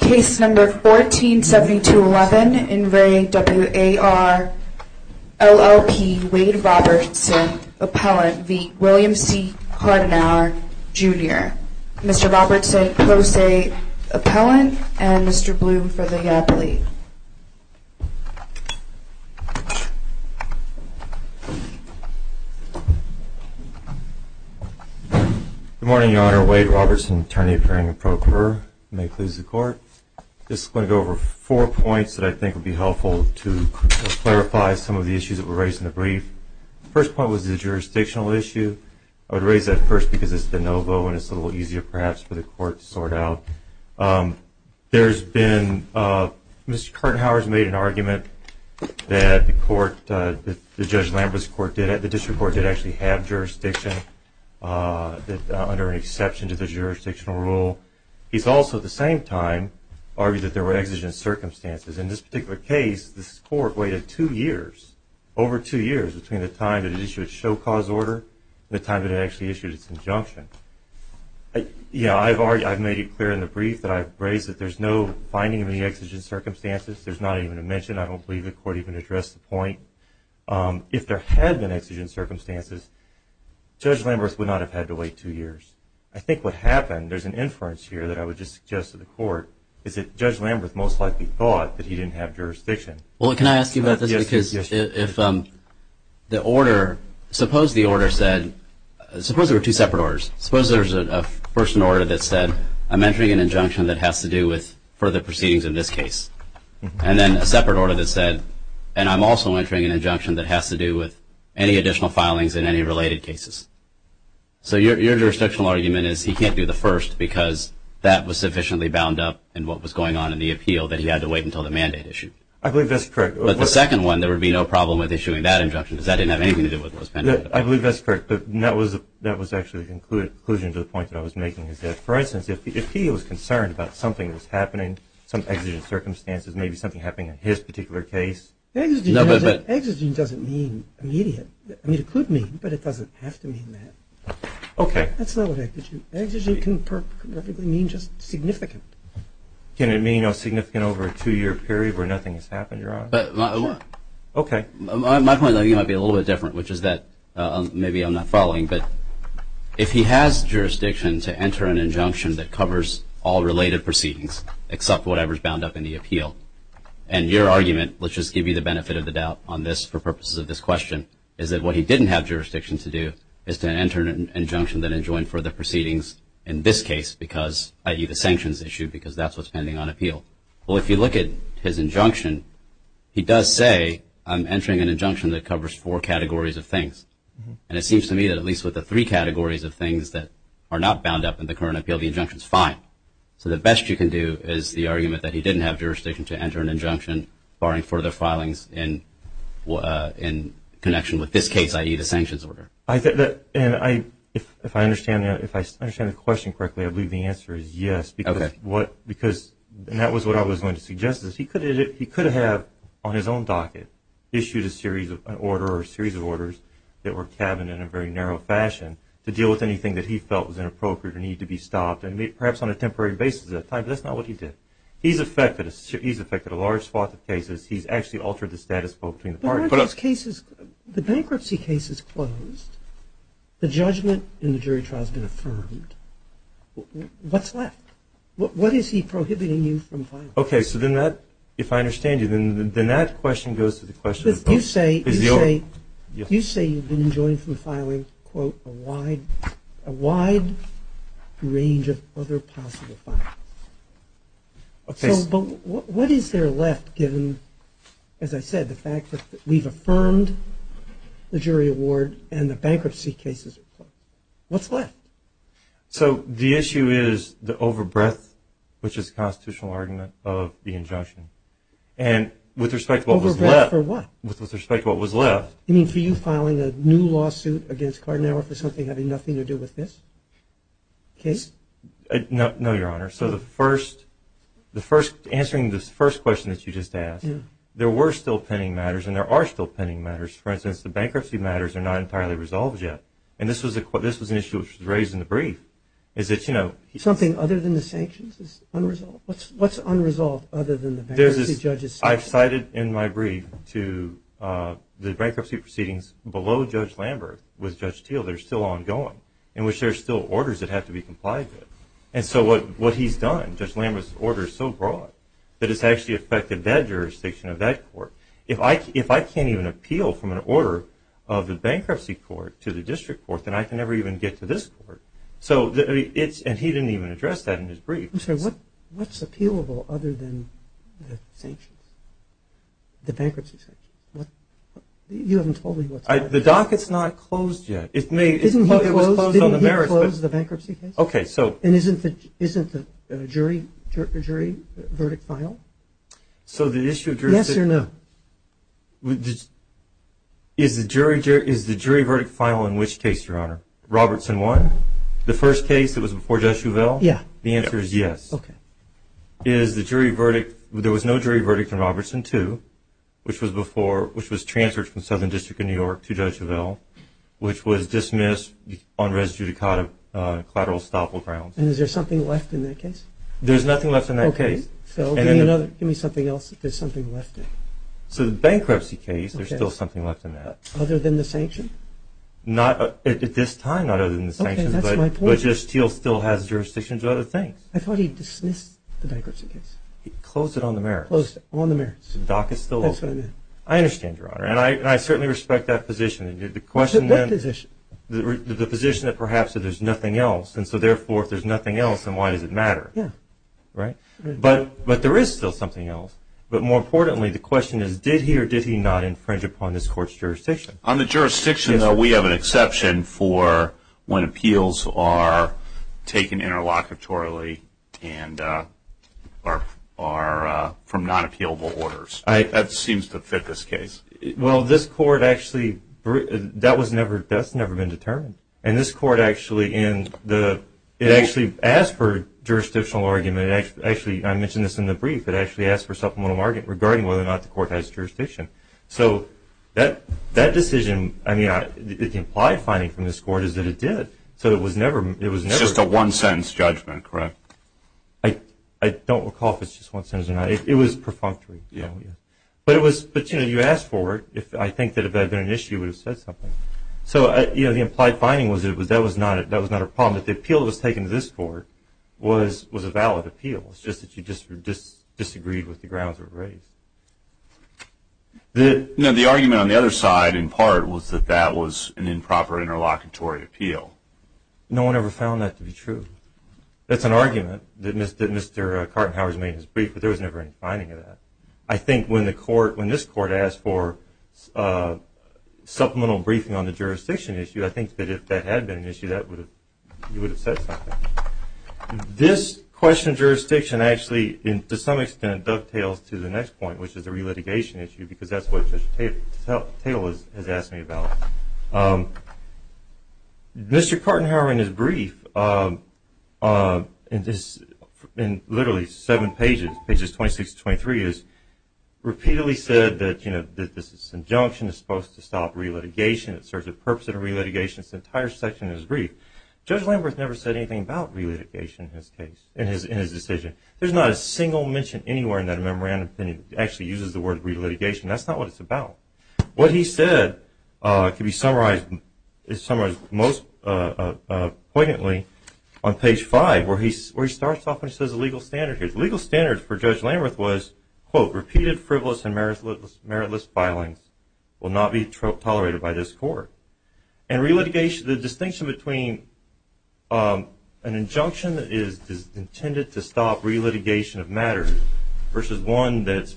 Case number 147211 in re. W.A.R. LLP, Wade Robertson, appellant v. William C. Cartinhour, Jr. Mr. Robertson, pro se appellant, and Mr. Blume for the appellate. Good morning, Your Honor. Wade Robertson, attorney appearing in pro cur. May it please the Court. I'm just going to go over four points that I think would be helpful to clarify some of the issues that were raised in the brief. The first point was the jurisdictional issue. I would raise that first because it's de novo and it's a little easier, perhaps, for the Court to sort out. Mr. Cartinhour has made an argument that the District Court did actually have jurisdiction under an exception to the jurisdictional rule. He's also, at the same time, argued that there were exigent circumstances. In this particular case, this Court waited two years, over two years, between the time that it issued its show cause order and the time that it actually issued its injunction. I've made it clear in the brief that I've raised that there's no finding of any exigent circumstances. There's not even a mention. I don't believe the Court even addressed the point. If there had been exigent circumstances, Judge Lamberth would not have had to wait two years. I think what happened, there's an inference here that I would just suggest to the Court, is that Judge Lamberth most likely thought that he didn't have jurisdiction. Well, can I ask you about this? Yes. Because if the order, suppose the order said, suppose there were two separate orders. Suppose there's a first order that said, I'm entering an injunction that has to do with further proceedings in this case. And then a separate order that said, and I'm also entering an injunction that has to do with any additional filings in any related cases. So your jurisdictional argument is he can't do the first because that was sufficiently bound up in what was going on in the appeal that he had to wait until the mandate issued. I believe that's correct. But the second one, there would be no problem with issuing that injunction because that didn't have anything to do with what was pending. I believe that's correct. But that was actually the conclusion to the point that I was making. For instance, if he was concerned about something that was happening, some exigent circumstances, maybe something happening in his particular case. Exigent doesn't mean immediate. It could mean, but it doesn't have to mean that. Okay. That's not what I did. Exigent can perfectly mean just significant. Can it mean significant over a two-year period where nothing has happened, Your Honor? Okay. My point might be a little bit different, which is that, maybe I'm not following, but if he has jurisdiction to enter an injunction that covers all related proceedings except whatever is bound up in the appeal, and your argument, let's just give you the benefit of the doubt on this for purposes of this question, is that what he didn't have jurisdiction to do is to enter an injunction that enjoined further proceedings in this case because, i.e., the sanctions issue because that's what's pending on appeal. Well, if you look at his injunction, he does say, I'm entering an injunction that covers four categories of things. And it seems to me that at least with the three categories of things that are not bound up in the current appeal, the injunction is fine. So the best you can do is the argument that he didn't have jurisdiction to enter an injunction barring further filings in connection with this case, i.e., the sanctions order. If I understand the question correctly, I believe the answer is yes. Okay. Because that was what I was going to suggest is he could have, on his own docket, issued a series of orders that were tabbed in a very narrow fashion to deal with anything that he felt was inappropriate or needed to be stopped, perhaps on a temporary basis at that time, but that's not what he did. He's affected a large swath of cases. He's actually altered the status quo between the parties. The bankruptcy case is closed. The judgment in the jury trial has been affirmed. What's left? What is he prohibiting you from filing? Okay. So then that, if I understand you, then that question goes to the question of both. You say you've been enjoined from filing, quote, a wide range of other possible files. Okay. So what is there left, given, as I said, the fact that we've affirmed the jury award and the bankruptcy case is closed? What's left? So the issue is the overbreadth, which is the constitutional argument of the injunction, and with respect to what was left. Overbreadth for what? With respect to what was left. You mean for you filing a new lawsuit against Cardenaro for something having nothing to do with this case? No, Your Honor. So the first, answering this first question that you just asked, there were still pending matters, and there are still pending matters. For instance, the bankruptcy matters are not entirely resolved yet, and this was an issue which was raised in the brief, is that, you know. Something other than the sanctions is unresolved? What's unresolved other than the bankruptcy judge's sanctions? I've cited in my brief to the bankruptcy proceedings below Judge Lambert with Judge Teel, they're still ongoing, in which there are still orders that have to be complied with. And so what he's done, Judge Lambert's order is so broad that it's actually affected that jurisdiction of that court. If I can't even appeal from an order of the bankruptcy court to the district court, then I can never even get to this court. And he didn't even address that in his brief. I'm sorry, what's appealable other than the sanctions, the bankruptcy sanctions? You haven't told me what's that. The docket's not closed yet. Didn't he close the bankruptcy case? Okay, so. And isn't the jury verdict final? So the issue of jurisdiction. Yes or no? Is the jury verdict final in which case, Your Honor? Robertson 1, the first case that was before Judge Uvell? Yeah. The answer is yes. Okay. Is the jury verdict, there was no jury verdict in Robertson 2, which was transferred from Southern District in New York to Judge Uvell, which was dismissed on res judicata collateral estoppel grounds. And is there something left in that case? There's nothing left in that case. Okay. Phil, give me something else that there's something left in. So the bankruptcy case, there's still something left in that. Other than the sanction? Not at this time, not other than the sanctions. Okay, that's my point. But Justice Steele still has jurisdiction to other things. I thought he dismissed the bankruptcy case. He closed it on the merits. The docket's still open. That's what I meant. I understand, Your Honor. And I certainly respect that position. The question then – What position? The position that perhaps that there's nothing else. And so, therefore, if there's nothing else, then why does it matter? Yeah. Right? But there is still something else. But more importantly, the question is, did he or did he not infringe upon this court's jurisdiction? On the jurisdiction, though, we have an exception for when appeals are taken interlocutorily and are from non-appealable orders. That seems to fit this case. Well, this court actually – that's never been determined. And this court actually – it actually asked for jurisdictional argument. Actually, I mentioned this in the brief. It actually asked for supplemental argument regarding whether or not the court has jurisdiction. So that decision, I mean, the implied finding from this court is that it did. So it was never – It's just a one-sentence judgment, correct? I don't recall if it's just one sentence or not. It was perfunctory. Yeah. But it was – but, you know, you asked for it. I think that if that had been an issue, it would have said something. So, you know, the implied finding was that that was not a problem. That the appeal that was taken to this court was a valid appeal. It's just that you disagreed with the grounds that were raised. Now, the argument on the other side, in part, was that that was an improper interlocutory appeal. No one ever found that to be true. That's an argument that Mr. Kartenhauer has made in his brief, but there was never any finding of that. I think when the court – when this court asked for supplemental briefing on the jurisdiction issue, I think that if that had been an issue, that would have – you would have said something. This question of jurisdiction actually, to some extent, dovetails to the next point, which is the relitigation issue, because that's what Judge Taylor has asked me about. Mr. Kartenhauer, in his brief, in this – in literally seven pages, pages 26 to 23, has repeatedly said that, you know, that this injunction is supposed to stop relitigation. It serves a purpose in a relitigation. This entire section of his brief. Judge Lamberth never said anything about relitigation in his case – in his decision. There's not a single mention anywhere in that memorandum that he actually uses the word relitigation. That's not what it's about. What he said can be summarized – is summarized most poignantly on page 5, where he starts off and says the legal standard here. The legal standard for Judge Lamberth was, quote, repeated frivolous and meritless filings will not be tolerated by this court. And relitigation – the distinction between an injunction that is intended to stop relitigation of matters versus one that's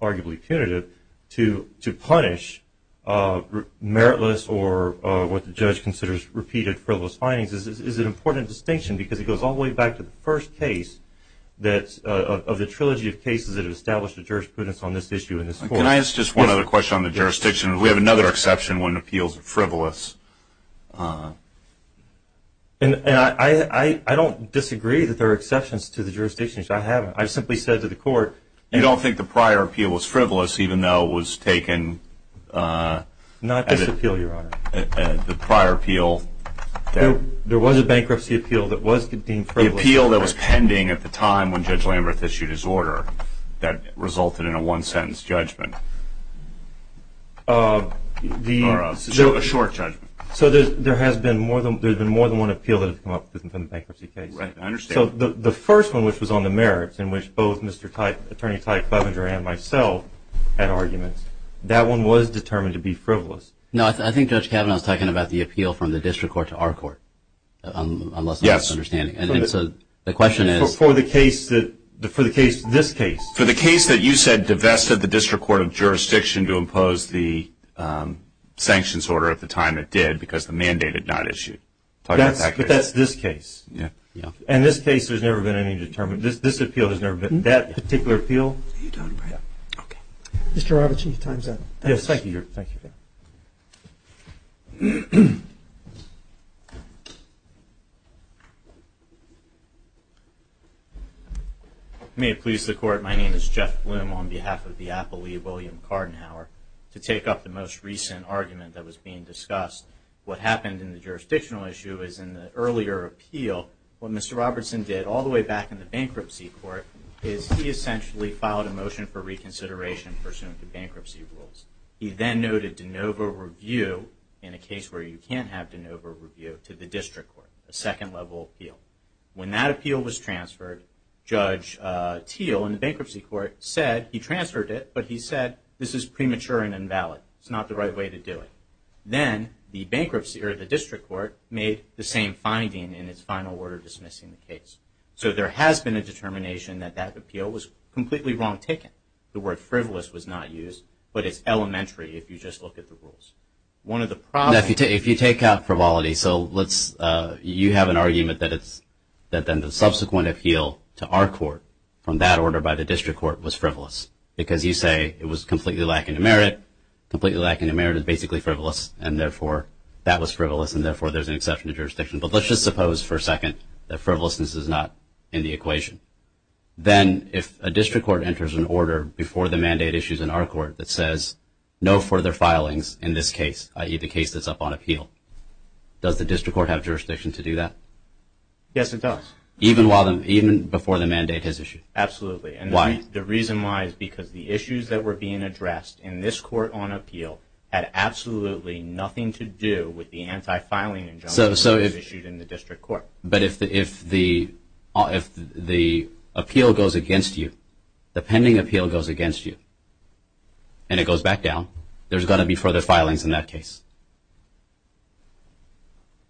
arguably punitive to punish meritless or what the judge considers repeated frivolous filings is an important distinction because it goes all the way back to the first case that – of the trilogy of cases that have established a jurisprudence on this issue in this court. Can I ask just one other question on the jurisdiction? We have another exception when appeals are frivolous. And I don't disagree that there are exceptions to the jurisdiction. I haven't. I've simply said to the court – You don't think the prior appeal was frivolous even though it was taken – Not this appeal, Your Honor. The prior appeal – There was a bankruptcy appeal that was deemed frivolous. The appeal that was pending at the time when Judge Lamberth issued his order that resulted in a one-sentence judgment. Or a short judgment. So there has been more than one appeal that has come up in the bankruptcy case. Right. I understand. I think the first one, which was on the merits, in which both Mr. – Attorney Tyke Clevenger and myself had arguments, that one was determined to be frivolous. No, I think Judge Kavanaugh is talking about the appeal from the district court to our court. Yes. Unless I'm misunderstanding. And so the question is – For the case that – for the case – this case. For the case that you said divested the district court of jurisdiction to impose the sanctions order at the time it did because the mandate had not issued. But that's this case. Yes. In this case, there's never been any determination. This appeal has never been – that particular appeal. You're done, right? Okay. Mr. Robichieff, time's up. Yes, thank you. Thank you. May it please the Court, my name is Jeff Blum on behalf of the affilee, William Cardenhower, to take up the most recent argument that was being discussed. What happened in the jurisdictional issue is in the earlier appeal, what Mr. Robertson did all the way back in the bankruptcy court, is he essentially filed a motion for reconsideration pursuant to bankruptcy rules. He then noted de novo review in a case where you can't have de novo review to the district court, a second level appeal. When that appeal was transferred, Judge Thiel in the bankruptcy court said – he transferred it, but he said this is premature and invalid. It's not the right way to do it. Then the bankruptcy or the district court made the same finding in its final order dismissing the case. So there has been a determination that that appeal was completely wrong taken. The word frivolous was not used, but it's elementary if you just look at the rules. One of the problems – If you take out frivolity, so let's – you have an argument that it's – that then the subsequent appeal to our court from that order by the district court was frivolous, because you say it was completely lacking in merit. Completely lacking in merit is basically frivolous, and therefore that was frivolous and therefore there's an exception to jurisdiction. But let's just suppose for a second that frivolousness is not in the equation. Then if a district court enters an order before the mandate issues in our court that says no further filings in this case, i.e. the case that's up on appeal, does the district court have jurisdiction to do that? Yes, it does. Even while – even before the mandate is issued? Absolutely. Why? The reason why is because the issues that were being addressed in this court on appeal had absolutely nothing to do with the anti-filing injunction that was issued in the district court. But if the appeal goes against you, the pending appeal goes against you, and it goes back down, there's going to be further filings in that case.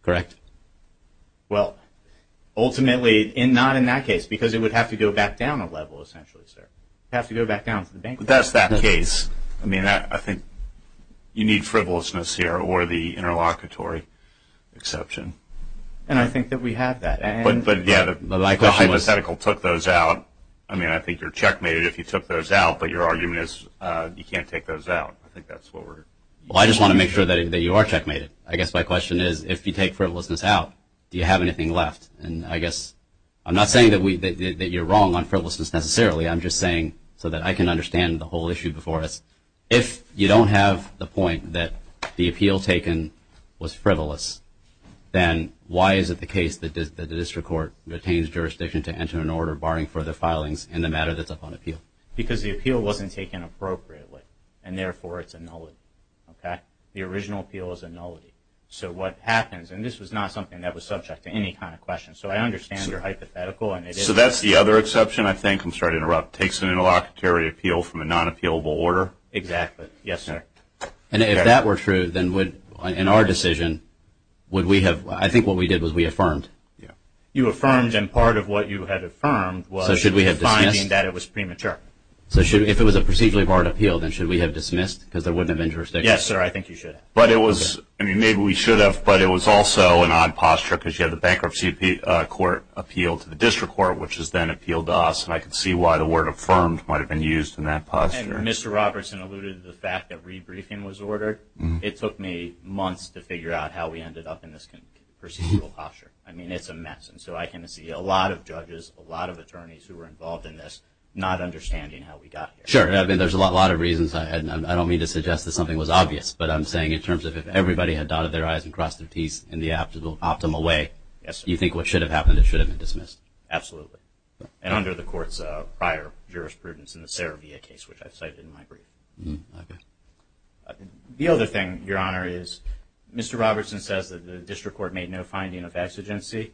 Correct? Well, ultimately not in that case because it would have to go back down a level essentially, sir. It would have to go back down to the bank. But that's that case. I mean, I think you need frivolousness here or the interlocutory exception. And I think that we have that. But, yeah, the hypothetical took those out. I mean, I think you're checkmated if you took those out, but your argument is you can't take those out. I think that's what we're – Well, I just want to make sure that you are checkmated. I guess my question is if you take frivolousness out, do you have anything left? And I guess I'm not saying that you're wrong on frivolousness necessarily. I'm just saying so that I can understand the whole issue before us. If you don't have the point that the appeal taken was frivolous, then why is it the case that the district court retains jurisdiction to enter an order barring further filings in the matter that's up on appeal? Because the appeal wasn't taken appropriately, and therefore it's a nullity. Okay? The original appeal is a nullity. So what happens, and this was not something that was subject to any kind of question, so I understand your hypothetical. So that's the other exception, I think. I'm sorry to interrupt. Takes an interlocutory appeal from a non-appealable order? Exactly. Yes, sir. And if that were true, then in our decision, would we have – I think what we did was we affirmed. You affirmed, and part of what you had affirmed was – So should we have dismissed? – that it was premature. So if it was a procedurally barred appeal, then should we have dismissed? Because there wouldn't have been jurisdiction. Yes, sir. I think you should have. But it was – I mean, maybe we should have, but it was also an odd posture, because you had the bankruptcy court appeal to the district court, which has then appealed to us. And I can see why the word affirmed might have been used in that posture. And Mr. Robertson alluded to the fact that rebriefing was ordered. It took me months to figure out how we ended up in this procedural posture. I mean, it's a mess. And so I can see a lot of judges, a lot of attorneys who were involved in this, not understanding how we got here. Sure. I mean, there's a lot of reasons. I don't mean to suggest that something was obvious, but I'm saying in terms of if everybody had dotted their I's and crossed their T's in the optimal way, you think what should have happened, it should have been dismissed. Absolutely. And under the court's prior jurisprudence in the Saravia case, which I cited in my brief. Okay. The other thing, Your Honor, is Mr. Robertson says that the district court made no finding of exigency.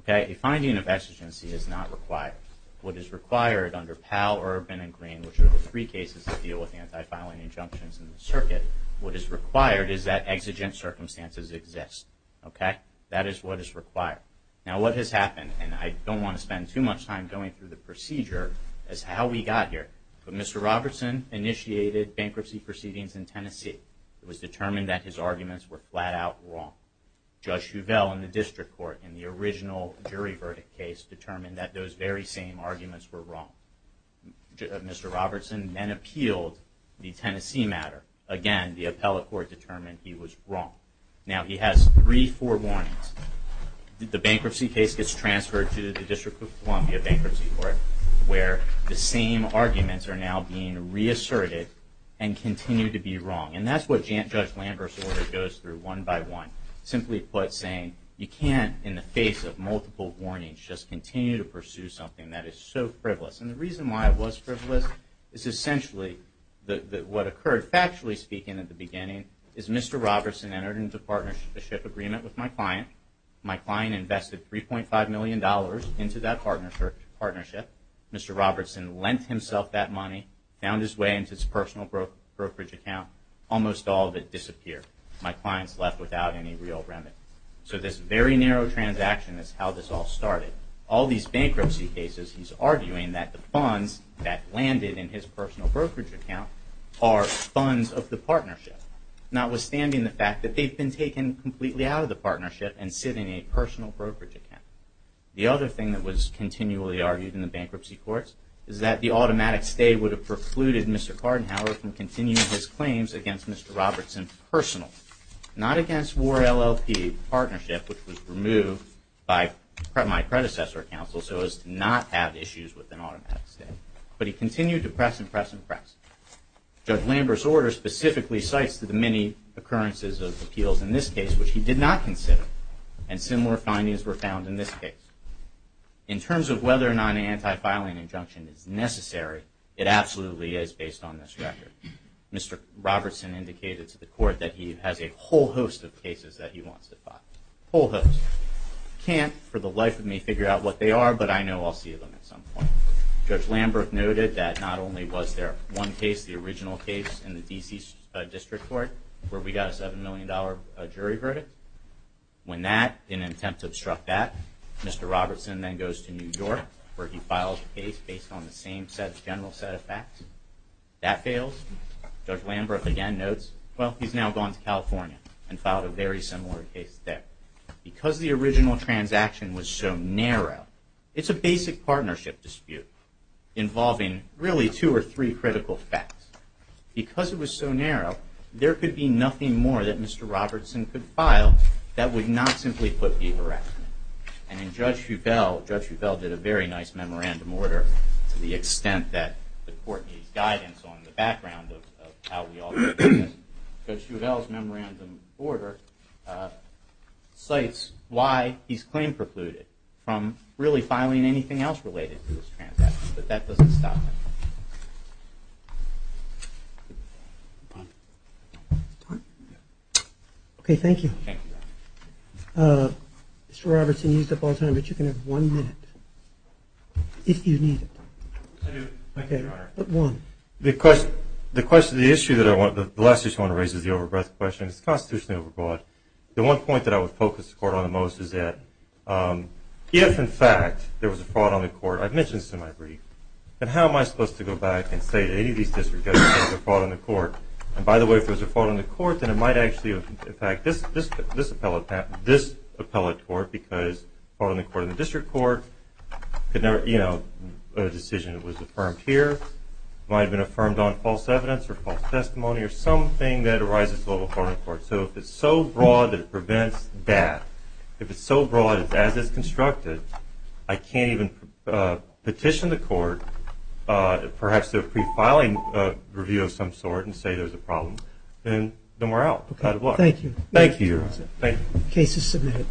Okay. A finding of exigency is not required. What is required under Powell, Urban, and Green, which are the three cases that deal with anti-filing injunctions in the circuit, what is required is that exigent circumstances exist. Okay. That is what is required. Now what has happened, and I don't want to spend too much time going through the procedure, is how we got here. When Mr. Robertson initiated bankruptcy proceedings in Tennessee, it was determined that his arguments were flat-out wrong. Judge Shuvel in the district court in the original jury verdict case determined that those very same arguments were wrong. Mr. Robertson then appealed the Tennessee matter. Again, the appellate court determined he was wrong. Now he has three, four warnings. The bankruptcy case gets transferred to the District of Columbia Bankruptcy Court, where the same arguments are now being reasserted and continue to be wrong. And that's what Judge Lambert's order goes through one by one. Simply put, saying you can't, in the face of multiple warnings, just continue to pursue something that is so frivolous. And the reason why it was frivolous is essentially that what occurred, factually speaking at the beginning, is Mr. Robertson entered into a partnership agreement with my client. My client invested $3.5 million into that partnership. Mr. Robertson lent himself that money, found his way into his personal brokerage account. Almost all of it disappeared. My client's left without any real remedy. So this very narrow transaction is how this all started. All these bankruptcy cases, he's arguing that the funds that landed in his personal brokerage account are funds of the partnership, notwithstanding the fact that they've been taken completely out of the partnership and sit in a personal brokerage account. The other thing that was continually argued in the bankruptcy courts is that the automatic stay would have precluded Mr. Kardenhauer from continuing his claims against Mr. Robertson personally, not against War LLP Partnership, which was removed by my predecessor counsel so as to not have issues with an automatic stay. But he continued to press and press and press. Judge Lambert's order specifically cites the many occurrences of appeals in this case, which he did not consider, and similar findings were found in this case. In terms of whether or not an anti-filing injunction is necessary, it absolutely is based on this record. Mr. Robertson indicated to the court that he has a whole host of cases that he wants to file. A whole host. He can't, for the life of me, figure out what they are, but I know I'll see them at some point. Judge Lambert noted that not only was there one case, the original case, in the D.C. District Court where we got a $7 million jury verdict. In an attempt to obstruct that, Mr. Robertson then goes to New York, where he files a case based on the same general set of facts. That fails. Judge Lambert again notes, well, he's now gone to California and filed a very similar case there. Because the original transaction was so narrow, it's a basic partnership dispute involving really two or three critical facts. Because it was so narrow, there could be nothing more that Mr. Robertson could file that would not simply put people at risk. And then Judge Feuvel, Judge Feuvel did a very nice memorandum order to the extent that the court needs guidance on the background of how we all do business. Judge Feuvel's memorandum order cites why he's claim precluded from really filing anything else related to this transaction. But that doesn't stop him. Okay, thank you. Mr. Robertson, you used up all time, but you can have one minute, if you need it. I do, Your Honor. Okay, one. The question, the issue that I want, the last issue I want to raise is the over breadth question. It's constitutionally overbroad. The one point that I would focus the court on the most is that if, in fact, there was a fraud on the court, I've mentioned this in my brief, then how am I supposed to go back and say to any of these district judges that there's a fraud on the court? And by the way, if there's a fraud on the court, then it might actually, in fact, this appellate court, because fraud on the court in the district court could never, you know, a decision that was affirmed here might have been affirmed on false evidence or false testimony or something that arises with a fraud on the court. So if it's so broad that it prevents that, if it's so broad as it's constructed, I can't even petition the court perhaps to a pre-filing review of some sort and say there's a problem. Then we're out. Thank you. Thank you. Case is submitted.